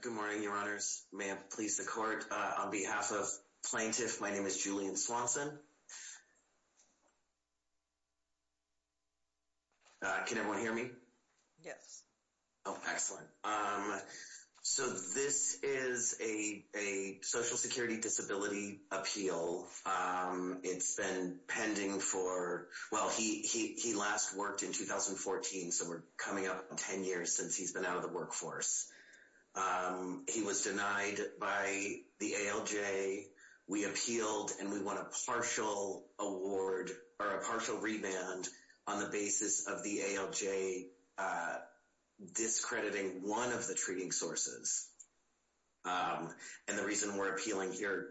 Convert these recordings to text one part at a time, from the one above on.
Good morning, your honors. May it please the court, on behalf of plaintiff, my name is Julian Swanson. Can everyone hear me? Yes. Oh, excellent. So this is a social security disability appeal. It's been pending for, well, he last worked in 2014, so we're coming up 10 years since he's been out of the workforce. He was denied by the ALJ. We appealed and we want a partial award or a partial remand on the basis of the ALJ discrediting one of the treating sources. And the reason we're appealing here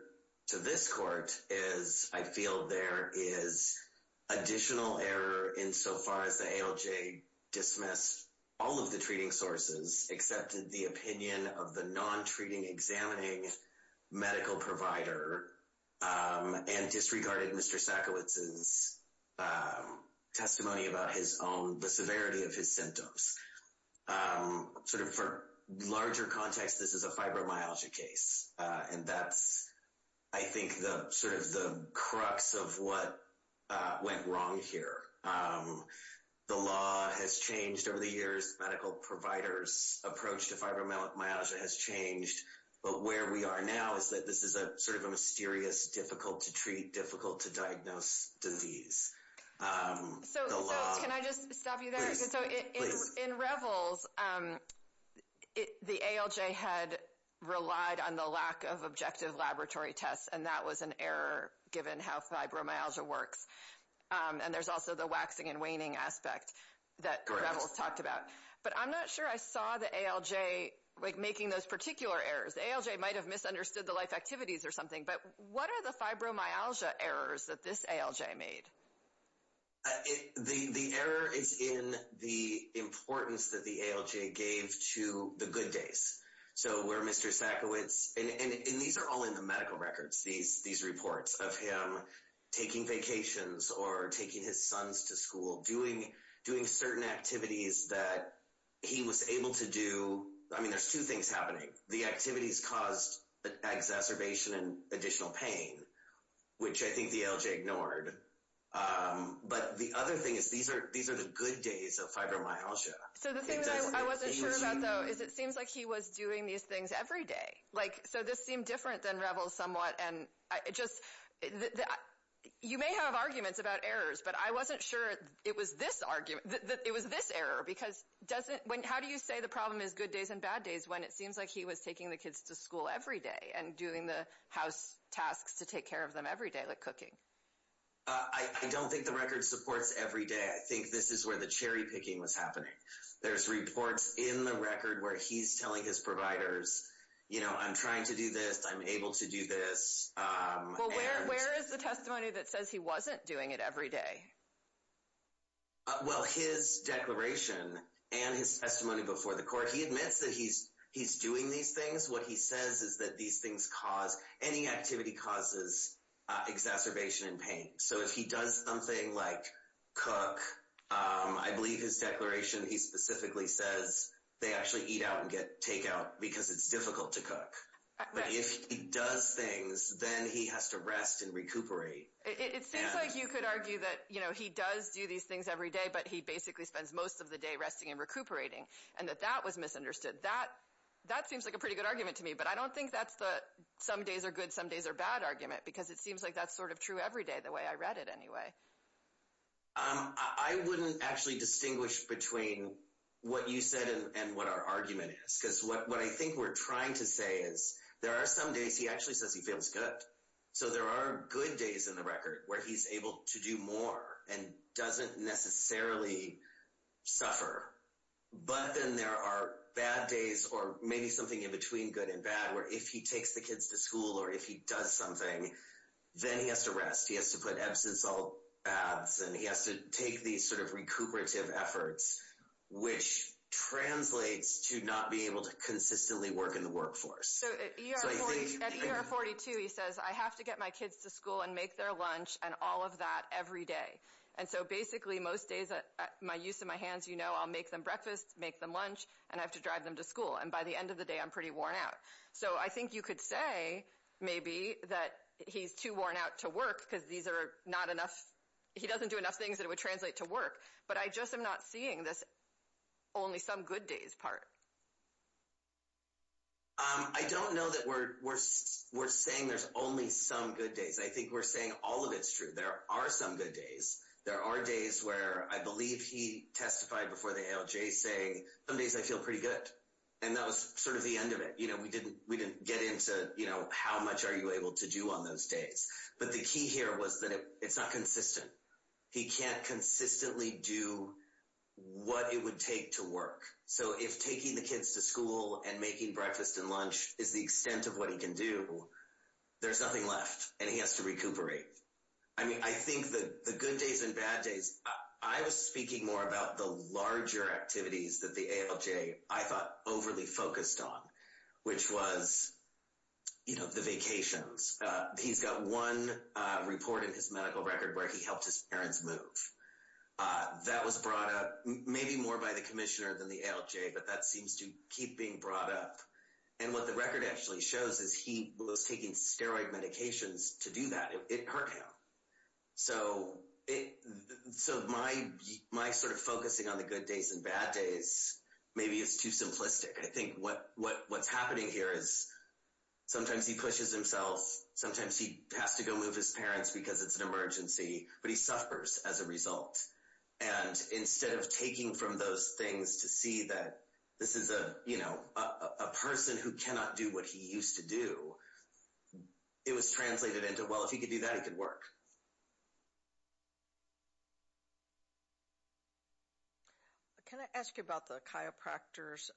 to this court is I feel there is additional error insofar as the ALJ dismissed all of the treating sources, accepted the opinion of the non-treating examining medical provider, and disregarded Mr. Sakowitz's testimony about his own, the severity of his symptoms. Sort of for larger context, this is a fibromyalgia case. And that's, I think, the sort of the crux of what went wrong here. The law has changed over the years. Medical providers' approach to fibromyalgia has changed. But where we are now is that this is a sort of a mysterious, difficult-to-treat, difficult-to-diagnose disease. So can I just stop you there? So in Revels, the ALJ had relied on the lack of objective laboratory tests, and that was an error given how fibromyalgia works. And there's also the waxing and waning aspect that Revels talked about. But I'm not sure I saw the ALJ making those particular errors. The ALJ might have misunderstood the life activities or something. But what are the fibromyalgia errors that this ALJ made? The error is in the importance that the ALJ gave to the good days. So where Mr. Sakowitz, and these are all in the medical records, these reports of him taking vacations or taking his sons to school, doing certain activities that he was able to do. I mean, there's two things happening. The activities caused exacerbation and additional pain, which I think the ALJ ignored. But the other thing is these are the good days of fibromyalgia. So the thing that I wasn't sure about, though, is it seems like he was doing these things every day. So this seemed different than Revels somewhat. And you may have arguments about errors, but I wasn't sure it was this error. How do you say the problem is good days and bad days when it seems like he was taking the kids to school every day and doing the house tasks to take care of them every day, like cooking? I don't think the record supports every day. I think this is where the cherry picking was happening. There's reports in the record where he's telling his providers, you know, I'm trying to do this. I'm able to do this. Well, where is the testimony that says he wasn't doing it every day? Well, his declaration and his testimony before the court, he admits that he's doing these things. What he says is that these things cause, any activity causes exacerbation and pain. So if he does something like cook, I believe his declaration, he specifically says they actually eat out and take out because it's difficult to cook. But if he does things, then he has to rest and recuperate. It seems like you could argue that, you know, he does do these things every day, but he basically spends most of the day resting and recuperating, and that that was misunderstood. That seems like a pretty good argument to me, but I don't think that's the some days are good, some days are bad argument, because it seems like that's sort of true every day, the way I read it anyway. I wouldn't actually distinguish between what you said and what our argument is, because what I think we're trying to say is there are some days he actually says he feels good. So there are good days in the record where he's able to do more and doesn't necessarily suffer. But then there are bad days, or maybe something in between good and bad, where if he takes the kids to school or if he does something, then he has to rest. He has to put Epsom salt baths, and he has to take these sort of recuperative efforts, which translates to not being able to consistently work in the workforce. So at ER 42, he says, I have to get my kids to school and make their lunch and all of that every day. And so basically most days, my use of my hands, you know, I'll make them breakfast, make them lunch, and I have to drive them to school, and by the end of the day, I'm pretty worn out. So I think you could say maybe that he's too worn out to work because these are not enough. He doesn't do enough things that would translate to work, but I just am not seeing this only some good days part. I don't know that we're saying there's only some good days. I think we're saying all of it's true. There are some good days. There are days where I believe he testified before the ALJ saying some days I feel pretty good, and that was sort of the end of it. You know, we didn't get into, you know, how much are you able to do on those days. But the key here was that it's not consistent. He can't consistently do what it would take to work. So if taking the kids to school and making breakfast and lunch is the extent of what he can do, there's nothing left, and he has to recuperate. I mean, I think the good days and bad days, I was speaking more about the larger activities that the ALJ, I thought, overly focused on, which was, you know, the vacations. He's got one report in his medical record where he helped his parents move. That was brought up maybe more by the commissioner than the ALJ, but that seems to keep being brought up. And what the record actually shows is he was taking steroid medications to do that. It hurt him. So my sort of focusing on the good days and bad days maybe is too simplistic. I think what's happening here is sometimes he pushes himself. Sometimes he has to go move his parents because it's an emergency, but he suffers as a result. And instead of taking from those things to see that this is a person who cannot do what he used to do, it was translated into, well, if he could do that, it could work. Thank you. Can I ask you about the chiropractors?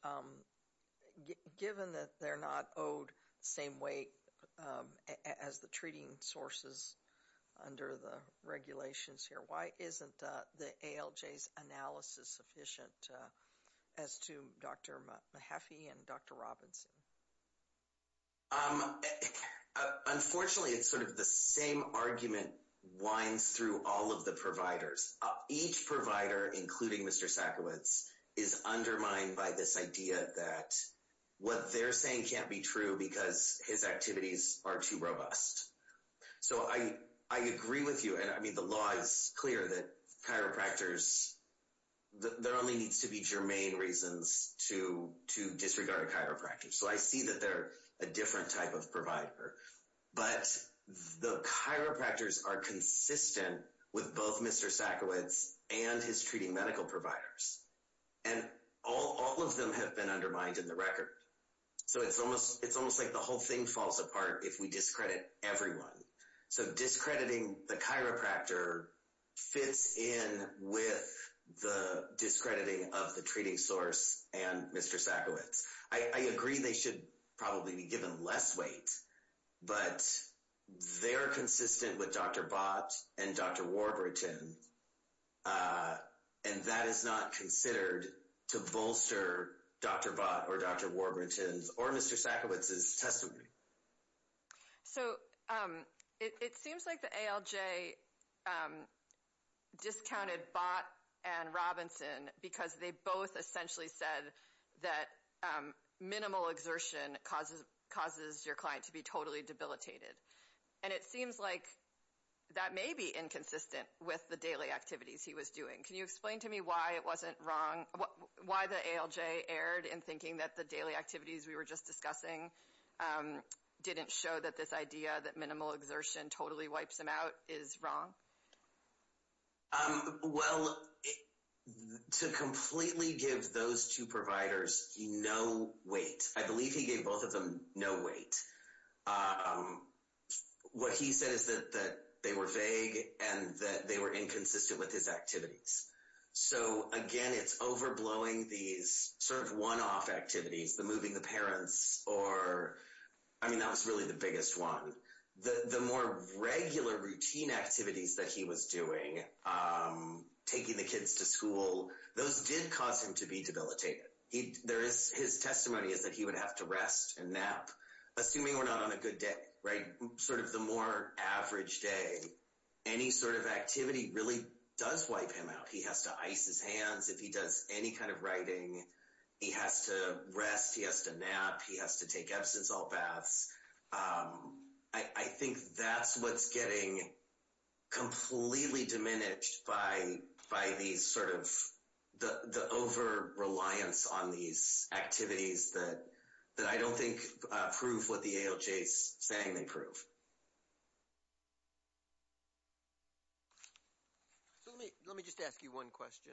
Given that they're not owed the same weight as the treating sources under the regulations here, why isn't the ALJ's analysis sufficient as to Dr. Mahaffey and Dr. Robinson? Unfortunately, it's sort of the same argument winds through all of the providers. Each provider, including Mr. Sackowitz, is undermined by this idea that what they're saying can't be true because his activities are too robust. So I agree with you, and I mean, the law is clear that chiropractors, there only needs to be germane reasons to disregard a chiropractor. So I see that they're a different type of provider. But the chiropractors are consistent with both Mr. Sackowitz and his treating medical providers. And all of them have been undermined in the record. So it's almost like the whole thing falls apart if we discredit everyone. So discrediting the chiropractor fits in with the discrediting of the treating source and Mr. Sackowitz. I agree they should probably be given less weight, but they're consistent with Dr. Bott and Dr. Warburton. And that is not considered to bolster Dr. Bott or Dr. Warburton's or Mr. Sackowitz's testimony. So it seems like the ALJ discounted Bott and Robinson because they both essentially said that minimal exertion causes your client to be totally debilitated. And it seems like that may be inconsistent with the daily activities he was doing. Can you explain to me why it wasn't wrong? Why the ALJ erred in thinking that the daily activities we were just discussing didn't show that this idea that minimal exertion totally wipes him out is wrong? Well, to completely give those two providers no weight, I believe he gave both of them no weight. What he said is that they were vague and that they were inconsistent with his activities. So again, it's overblowing these sort of one-off activities. The moving the parents or, I mean, that was really the biggest one. The more regular routine activities that he was doing, taking the kids to school, those did cause him to be debilitated. His testimony is that he would have to rest and nap, assuming we're not on a good day, right? Sort of the more average day, any sort of activity really does wipe him out. He has to ice his hands if he does any kind of writing. He has to rest. He has to nap. He has to take Epsom salt baths. I think that's what's getting completely diminished by these sort of the over-reliance on these activities that I don't think prove what the ALJ is saying they prove. So let me just ask you one question.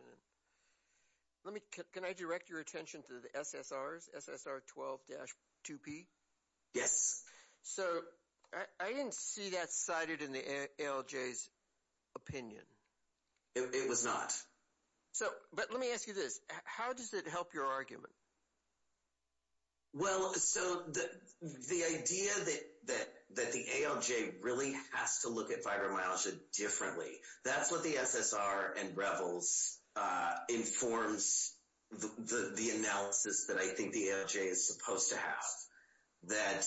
Can I direct your attention to the SSRs, SSR 12-2P? Yes. So I didn't see that cited in the ALJ's opinion. It was not. So, but let me ask you this. How does it help your argument? Well, so the idea that the ALJ really has to look at fibromyalgia differently, that's what the SSR and Revels informs the analysis that I think the ALJ is supposed to have. That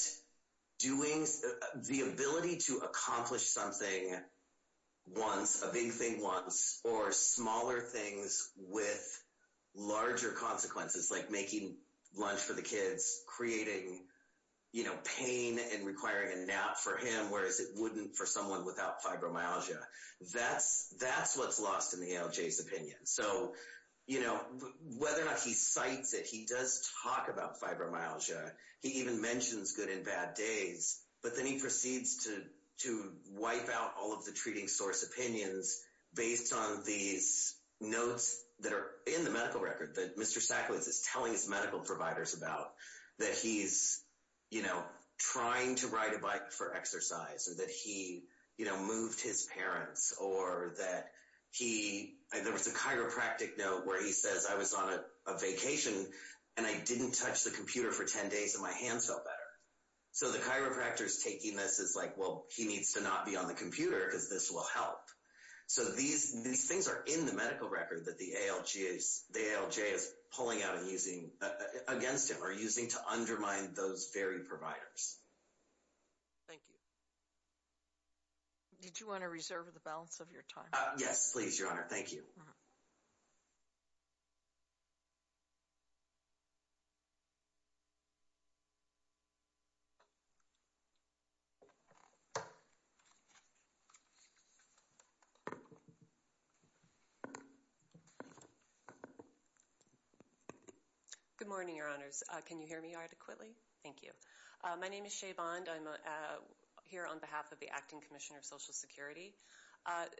the ability to accomplish something once, a big thing once, or smaller things with larger consequences, like making lunch for the kids, creating pain and requiring a nap for him, whereas it wouldn't for someone without fibromyalgia. That's what's lost in the ALJ's opinion. So, you know, whether or not he cites it, he does talk about fibromyalgia. He even mentions good and bad days. But then he proceeds to wipe out all of the treating source opinions based on these notes that are in the medical record that Mr. Sacklitz is telling his medical providers about. That he's, you know, trying to ride a bike for exercise, or that he, you know, moved his parents, or that he, there was a chiropractic note where he says, I was on a vacation and I didn't touch the computer for 10 days and my hands felt better. So the chiropractor's taking this as like, well, he needs to not be on the computer because this will help. So these things are in the medical record that the ALJ is pulling out and using against him, or using to undermine those very providers. Thank you. Did you want to reserve the balance of your time? Yes, please, Your Honor. Thank you. Good morning, Your Honors. Can you hear me adequately? Thank you. My name is Shay Bond. I'm here on behalf of the Acting Commissioner of Social Security.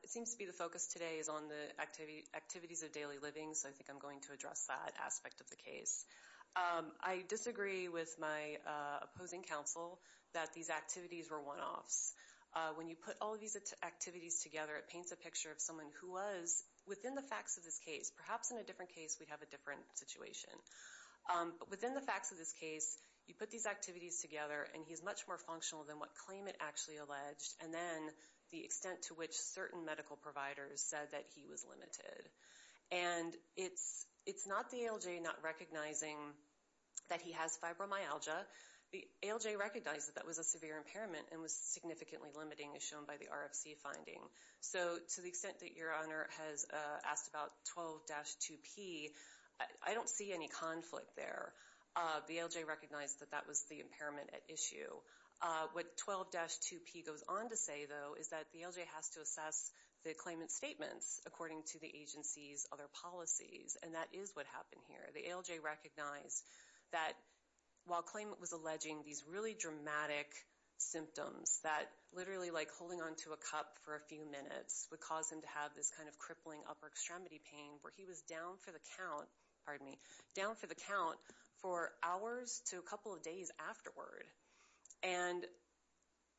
It seems to be the focus today is on the activities of daily living, so I think I'm going to address that aspect of the case. I disagree with my opposing counsel that these activities were one-offs. When you put all of these activities together, it paints a picture of someone who was, within the facts of this case, perhaps in a different case we'd have a different situation. But within the facts of this case, you put these activities together and he's much more functional than what claimant actually alleged, and then the extent to which certain medical providers said that he was limited. And it's not the ALJ not recognizing that he has fibromyalgia. The ALJ recognized that that was a severe impairment and was significantly limiting as shown by the RFC finding. So to the extent that Your Honor has asked about 12-2P, I don't see any conflict there. The ALJ recognized that that was the impairment at issue. What 12-2P goes on to say, though, is that the ALJ has to assess the claimant's statements according to the agency's other policies, and that is what happened here. The ALJ recognized that while claimant was alleging these really dramatic symptoms that literally like holding on to a cup for a few minutes would cause him to have this kind of crippling upper extremity pain, where he was down for the count for hours to a couple of days afterward. And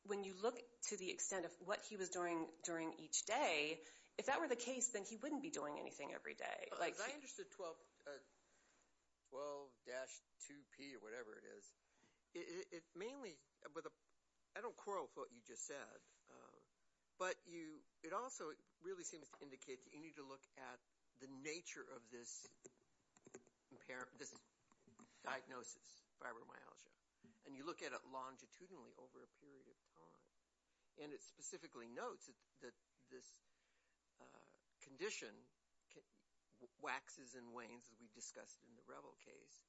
when you look to the extent of what he was doing during each day, if that were the case, then he wouldn't be doing anything every day. As I understood 12-2P or whatever it is, it mainly – I don't quarrel with what you just said, but it also really seems to indicate that you need to look at the nature of this diagnosis, fibromyalgia, and you look at it longitudinally over a period of time. And it specifically notes that this condition waxes and wanes, as we discussed in the Revel case,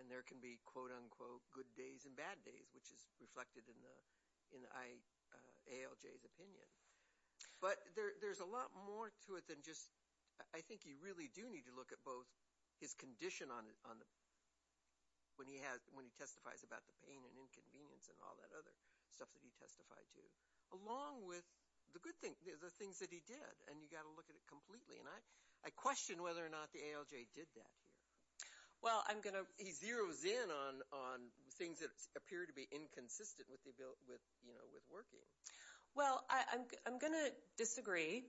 and there can be quote-unquote good days and bad days, which is reflected in ALJ's opinion. But there's a lot more to it than just – I think you really do need to look at both his condition when he testifies about the pain and inconvenience and all that other stuff that he testified to, along with the things that he did, and you've got to look at it completely. And I question whether or not the ALJ did that here. He zeroes in on things that appear to be inconsistent with working. Well, I'm going to disagree,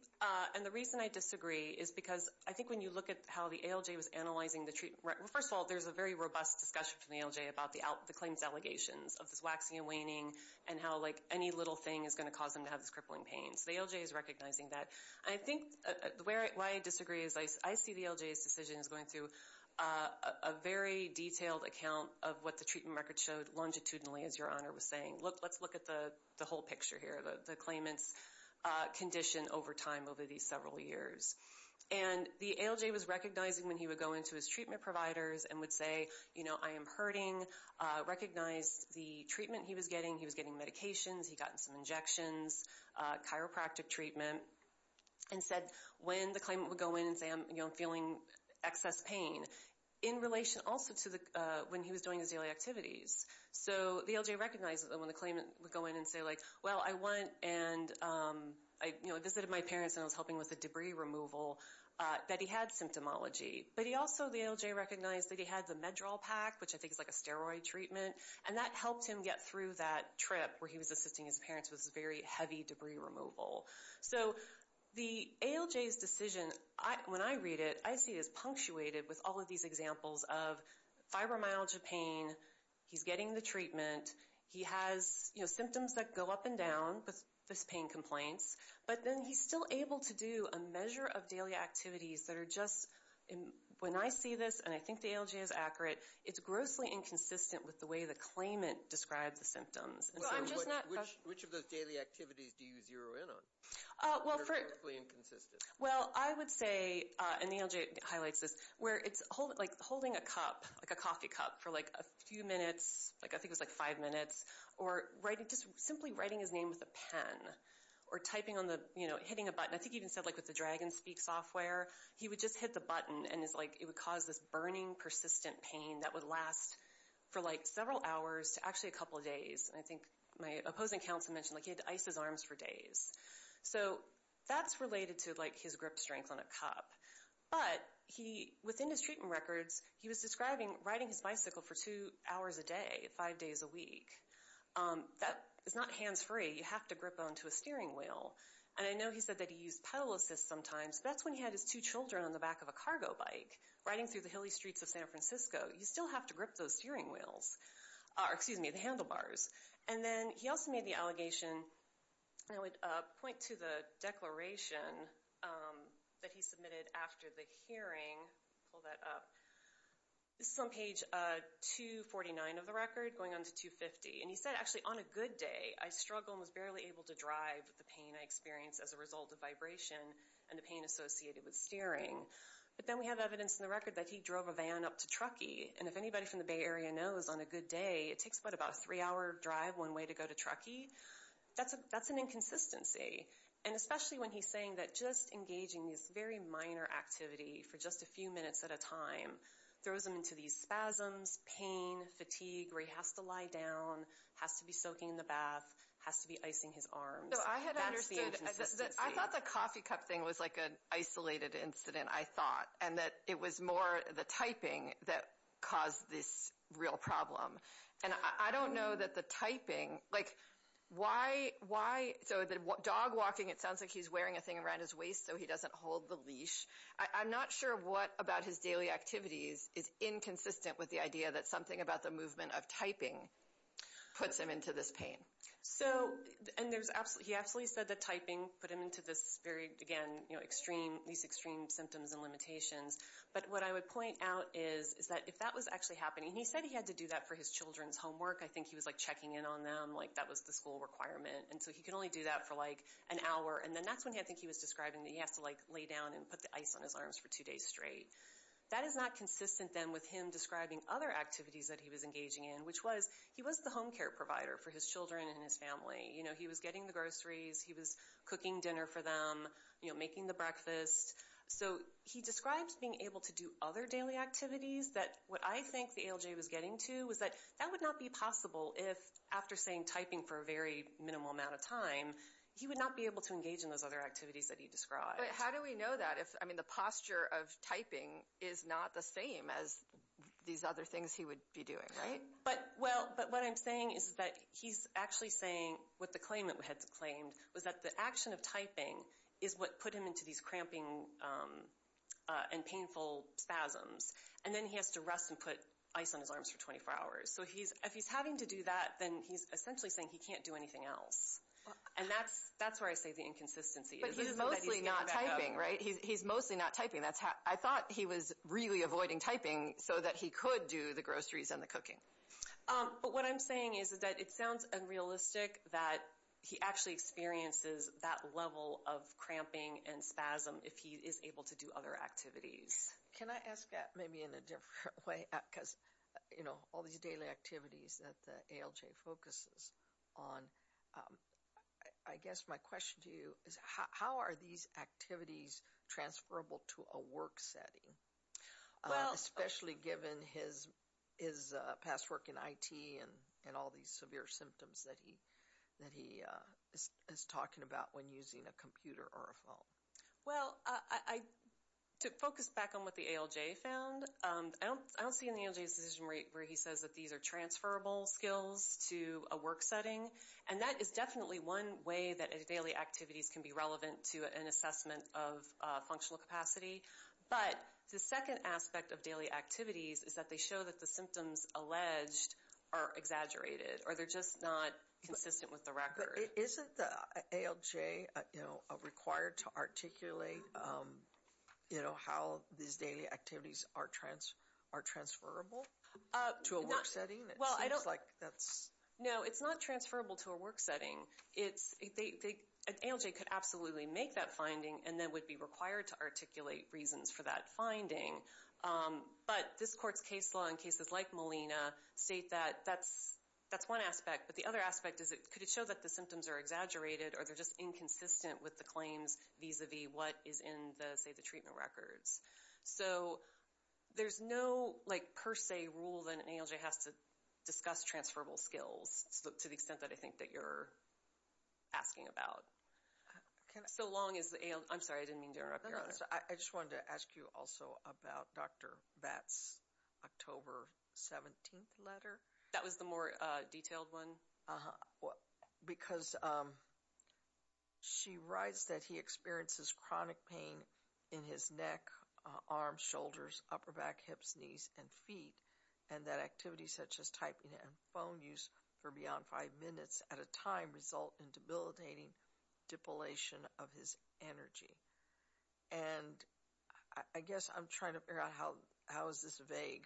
and the reason I disagree is because I think when you look at how the ALJ was analyzing the treatment – well, first of all, there's a very robust discussion from the ALJ about the claimant's allegations of this waxing and waning and how any little thing is going to cause them to have this crippling pain. So the ALJ is recognizing that. I think why I disagree is I see the ALJ's decision as going through a very detailed account of what the treatment record showed longitudinally, as Your Honor was saying. Let's look at the whole picture here, the claimant's condition over time over these several years. And the ALJ was recognizing when he would go into his treatment providers and would say, you know, I am hurting, recognized the treatment he was getting, he was getting medications, he'd gotten some injections, chiropractic treatment, and said when the claimant would go in and say, you know, I'm feeling excess pain, in relation also to when he was doing his daily activities. So the ALJ recognizes when the claimant would go in and say, like, well, I went and I, you know, visited my parents and I was helping with the debris removal, that he had symptomology. But he also, the ALJ recognized that he had the MedDraw pack, which I think is like a steroid treatment, and that helped him get through that trip where he was assisting his parents with very heavy debris removal. So the ALJ's decision, when I read it, I see it as punctuated with all of these examples of fibromyalgia pain, he's getting the treatment, he has, you know, symptoms that go up and down with his pain complaints, but then he's still able to do a measure of daily activities that are just, when I see this, and I think the ALJ is accurate, it's grossly inconsistent with the way the claimant describes the symptoms. Which of those daily activities do you zero in on? Well, I would say, and the ALJ highlights this, where it's like holding a cup, like a coffee cup, for like a few minutes, like I think it was like five minutes, or just simply writing his name with a pen, or typing on the, you know, hitting a button. I think he even said like with the DragonSpeak software, he would just hit the button and it would cause this burning, persistent pain that would last for like several hours to actually a couple of days. I think my opposing counsel mentioned like he had to ice his arms for days. So that's related to like his grip strength on a cup. But he, within his treatment records, he was describing riding his bicycle for two hours a day, five days a week. That is not hands-free, you have to grip onto a steering wheel. And I know he said that he used pedal assist sometimes, but that's when he had his two children on the back of a cargo bike, riding through the hilly streets of San Francisco. You still have to grip those steering wheels, or excuse me, the handlebars. And then he also made the allegation, I would point to the declaration that he submitted after the hearing. Pull that up. This is on page 249 of the record, going on to 250. And he said, actually, on a good day, I struggled and was barely able to drive with the pain I experienced as a result of vibration and the pain associated with steering. But then we have evidence in the record that he drove a van up to Truckee. And if anybody from the Bay Area knows, on a good day, it takes about a three-hour drive one way to go to Truckee. That's an inconsistency. And especially when he's saying that just engaging this very minor activity for just a few minutes at a time throws him into these spasms, pain, fatigue, where he has to lie down, has to be soaking in the bath, has to be icing his arms. That's the inconsistency. I thought the coffee cup thing was like an isolated incident, I thought. And that it was more the typing that caused this real problem. And I don't know that the typing, like why, so the dog walking, it sounds like he's wearing a thing around his waist so he doesn't hold the leash. I'm not sure what about his daily activities is inconsistent with the idea that something about the movement of typing puts him into this pain. So, and he absolutely said that typing put him into this very, again, these extreme symptoms and limitations. But what I would point out is that if that was actually happening, and he said he had to do that for his children's homework. I think he was like checking in on them, like that was the school requirement. And so he could only do that for like an hour. And then that's when I think he was describing that he has to like lay down and put the ice on his arms for two days straight. That is not consistent then with him describing other activities that he was engaging in, which was he was the home care provider for his children and his family. You know, he was getting the groceries, he was cooking dinner for them, you know, making the breakfast. So he describes being able to do other daily activities that what I think the ALJ was getting to was that that would not be possible if, after saying typing for a very minimal amount of time, he would not be able to engage in those other activities that he described. But how do we know that if, I mean, the posture of typing is not the same as these other things he would be doing, right? But, well, but what I'm saying is that he's actually saying what the claimant had claimed was that the action of typing is what put him into these cramping and painful spasms. And then he has to rest and put ice on his arms for 24 hours. So if he's having to do that, then he's essentially saying he can't do anything else. And that's where I say the inconsistency is. But he's mostly not typing, right? He's mostly not typing. I thought he was really avoiding typing so that he could do the groceries and the cooking. But what I'm saying is that it sounds unrealistic that he actually experiences that level of cramping and spasm if he is able to do other activities. Can I ask that maybe in a different way? Because, you know, all these daily activities that the ALJ focuses on, I guess my question to you is how are these activities transferable to a work setting? Especially given his past work in IT and all these severe symptoms that he is talking about when using a computer or a phone. Well, to focus back on what the ALJ found, I don't see in the ALJ's decision where he says that these are transferable skills to a work setting. And that is definitely one way that daily activities can be relevant to an assessment of functional capacity. But the second aspect of daily activities is that they show that the symptoms alleged are exaggerated or they're just not consistent with the record. Isn't the ALJ required to articulate how these daily activities are transferable to a work setting? Well, I don't... It seems like that's... No, it's not transferable to a work setting. An ALJ could absolutely make that finding and then would be required to articulate reasons for that finding. But this court's case law in cases like Molina state that that's one aspect. But the other aspect is could it show that the symptoms are exaggerated or they're just inconsistent with the claims vis-a-vis what is in, say, the treatment records. So there's no per se rule that an ALJ has to discuss transferable skills to the extent that I think that you're asking about. So long as the ALJ... I'm sorry, I didn't mean to interrupt your honor. I just wanted to ask you also about Dr. Vatt's October 17th letter. That was the more detailed one? Uh-huh. Because she writes that he experiences chronic pain in his neck, arms, shoulders, upper back, hips, knees, and feet. And that activities such as typing and phone use for beyond five minutes at a time result in debilitating depilation of his energy. And I guess I'm trying to figure out how is this vague.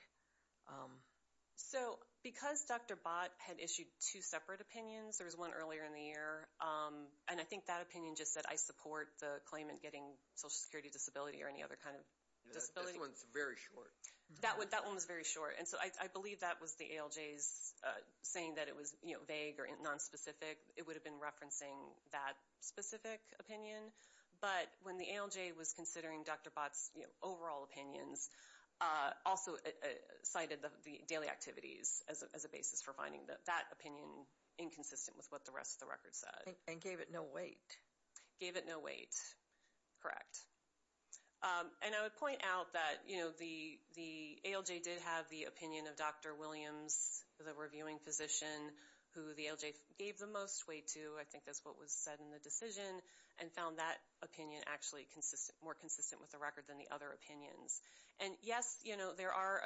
So because Dr. Vatt had issued two separate opinions, there was one earlier in the year, and I think that opinion just said, I support the claimant getting Social Security disability or any other kind of disability. This one's very short. That one was very short. And so I believe that was the ALJ's saying that it was vague or nonspecific. It would have been referencing that specific opinion. But when the ALJ was considering Dr. Vatt's overall opinions, also cited the daily activities as a basis for finding that opinion inconsistent with what the rest of the record said. And gave it no weight. Gave it no weight, correct. And I would point out that the ALJ did have the opinion of Dr. Williams, the reviewing physician, who the ALJ gave the most weight to, I think that's what was said in the decision, and found that opinion actually more consistent with the record than the other opinions. And yes, there are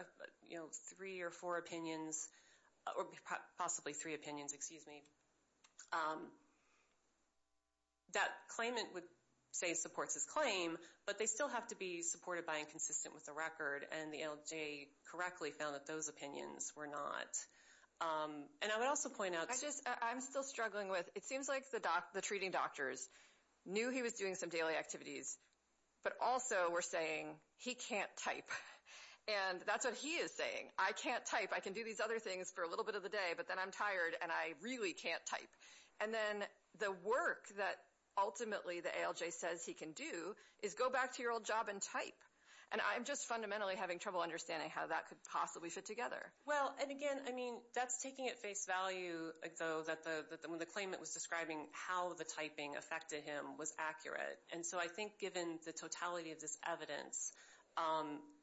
three or four opinions, or possibly three opinions, excuse me, that claimant would say supports his claim, but they still have to be supported by and consistent with the record, and the ALJ correctly found that those opinions were not. And I would also point out... I just, I'm still struggling with, it seems like the treating doctors knew he was doing some daily activities, but also were saying, he can't type. And that's what he is saying. I can't type. I can do these other things for a little bit of the day, but then I'm tired and I really can't type. And then the work that ultimately the ALJ says he can do is go back to your old job and type. And I'm just fundamentally having trouble understanding how that could possibly fit together. Well, and again, I mean, that's taking at face value, though, that when the claimant was describing how the typing affected him was accurate.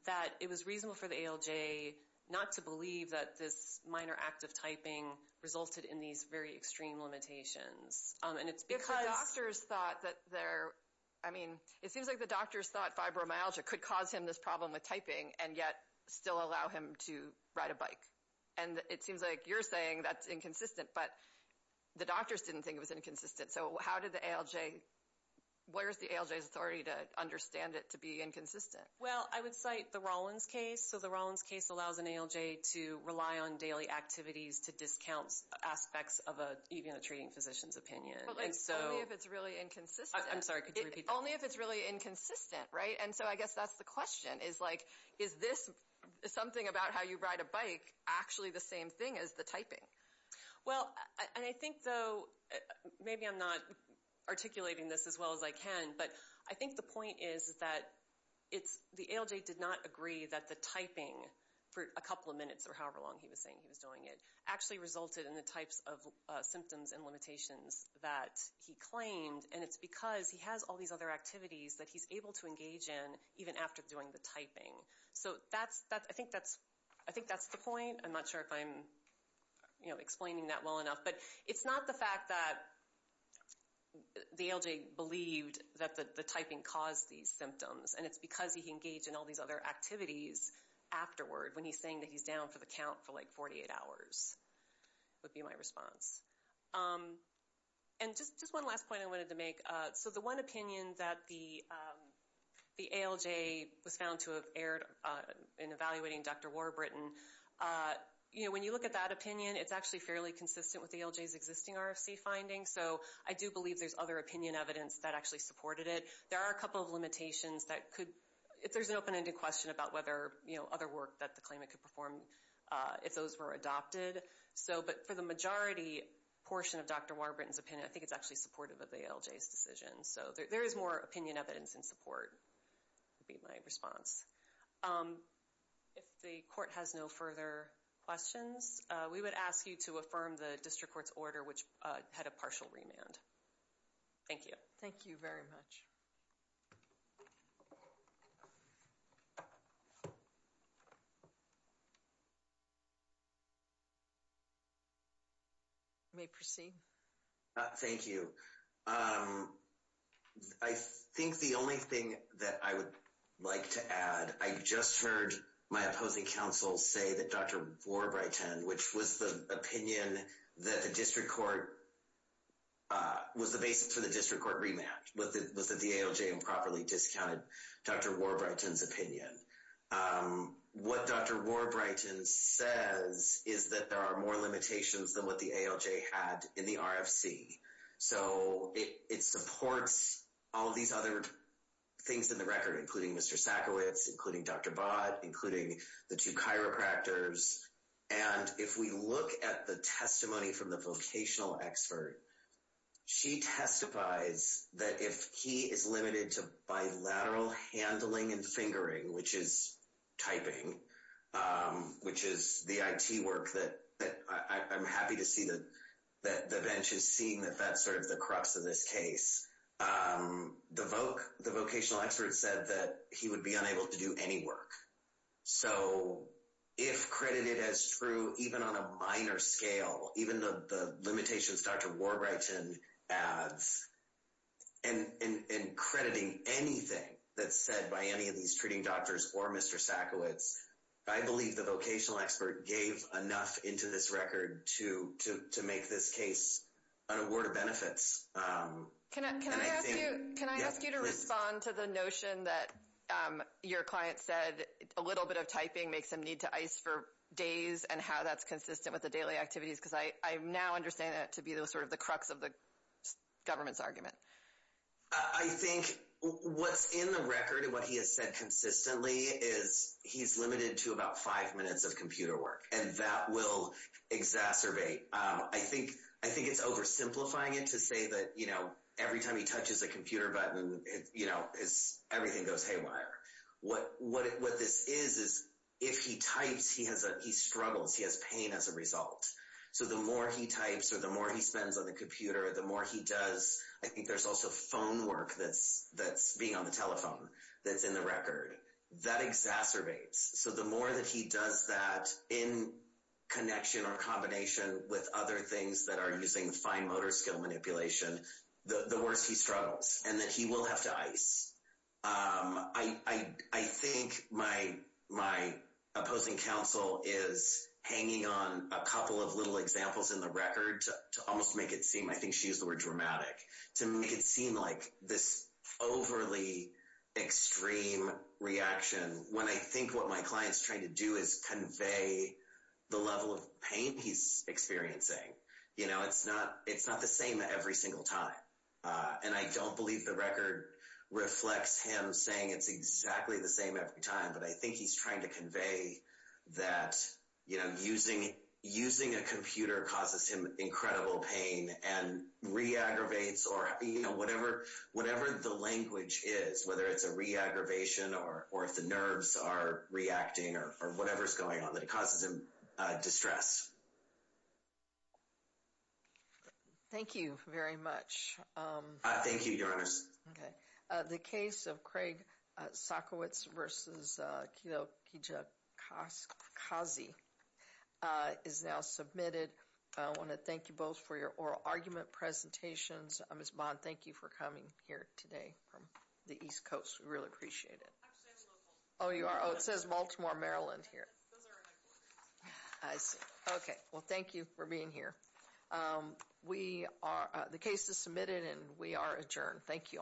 That it was reasonable for the ALJ not to believe that this minor act of typing resulted in these very extreme limitations. And it's because... If the doctors thought that there... I mean, it seems like the doctors thought fibromyalgia could cause him this problem with typing, and yet still allow him to ride a bike. And it seems like you're saying that's inconsistent, but the doctors didn't think it was inconsistent. So how did the ALJ... Where is the ALJ's authority to understand it to be inconsistent? Well, I would cite the Rollins case. So the Rollins case allows an ALJ to rely on daily activities to discount aspects of even a treating physician's opinion. Only if it's really inconsistent. I'm sorry, could you repeat that? Only if it's really inconsistent, right? And so I guess that's the question. Is this something about how you ride a bike actually the same thing as the typing? Well, and I think, though, maybe I'm not articulating this as well as I can, but I think the point is that the ALJ did not agree that the typing, for a couple of minutes or however long he was saying he was doing it, actually resulted in the types of symptoms and limitations that he claimed. And it's because he has all these other activities that he's able to engage in even after doing the typing. So I think that's the point. I'm not sure if I'm explaining that well enough. But it's not the fact that the ALJ believed that the typing caused these symptoms, and it's because he engaged in all these other activities afterward, when he's saying that he's down for the count for like 48 hours, would be my response. And just one last point I wanted to make. So the one opinion that the ALJ was found to have aired in evaluating Dr. Warburton, when you look at that opinion, it's actually fairly consistent with the ALJ's existing RFC findings. So I do believe there's other opinion evidence that actually supported it. There are a couple of limitations that could – there's an open-ended question about whether other work that the claimant could perform if those were adopted. But for the majority portion of Dr. Warburton's opinion, I think it's actually supportive of the ALJ's decision. So there is more opinion evidence and support, would be my response. If the court has no further questions, we would ask you to affirm the district court's order which had a partial remand. Thank you. Thank you very much. You may proceed. Thank you. I think the only thing that I would like to add, I just heard my opposing counsel say that Dr. Warburton, which was the opinion that the district court – was the basis for the district court remand, was that the ALJ improperly discounted Dr. Warburton's opinion. What Dr. Warburton says is that there are more limitations than what the ALJ had in the RFC. So it supports all of these other things in the record, including Mr. Sackowitz, including Dr. Bott, including the two chiropractors. And if we look at the testimony from the vocational expert, she testifies that if he is limited to bilateral handling and fingering, which is typing, which is the IT work that I'm happy to see that the bench is seeing that that's sort of the crux of this case. The vocational expert said that he would be unable to do any work. So if credited as true, even on a minor scale, even the limitations Dr. Warburton adds, and crediting anything that's said by any of these treating doctors or Mr. Sackowitz, I believe the vocational expert gave enough into this record to make this case an award of benefits. Can I ask you to respond to the notion that your client said a little bit of typing makes them need to ice for days and how that's consistent with the daily activities? Because I now understand that to be the sort of the crux of the government's argument. I think what's in the record and what he has said consistently is he's limited to about five minutes of computer work, and that will exacerbate. I think it's oversimplifying it to say that every time he touches a computer button, everything goes haywire. What this is is if he types, he struggles. He has pain as a result. So the more he types or the more he spends on the computer, the more he does. I think there's also phone work that's being on the telephone that's in the record. That exacerbates. So the more that he does that in connection or combination with other things that are using fine motor skill manipulation, the worse he struggles and that he will have to ice. I think my opposing counsel is hanging on a couple of little examples in the record to almost make it seem, I think she used the word dramatic, to make it seem like this overly extreme reaction, when I think what my client's trying to do is convey the level of pain he's experiencing. It's not the same every single time. And I don't believe the record reflects him saying it's exactly the same every time, but I think he's trying to convey that using a computer causes him incredible pain and re-aggravates or whatever the language is, whether it's a re-aggravation or if the nerves are reacting or whatever's going on that causes him distress. Thank you very much. Thank you, Your Honors. The case of Craig Sokowitz versus Kilo Kijakazi is now submitted. I want to thank you both for your oral argument presentations. Ms. Bond, thank you for coming here today from the East Coast. We really appreciate it. Oh, you are? Oh, it says Baltimore, Maryland here. I see. Okay. Well, thank you for being here. The case is submitted and we are adjourned. Thank you all.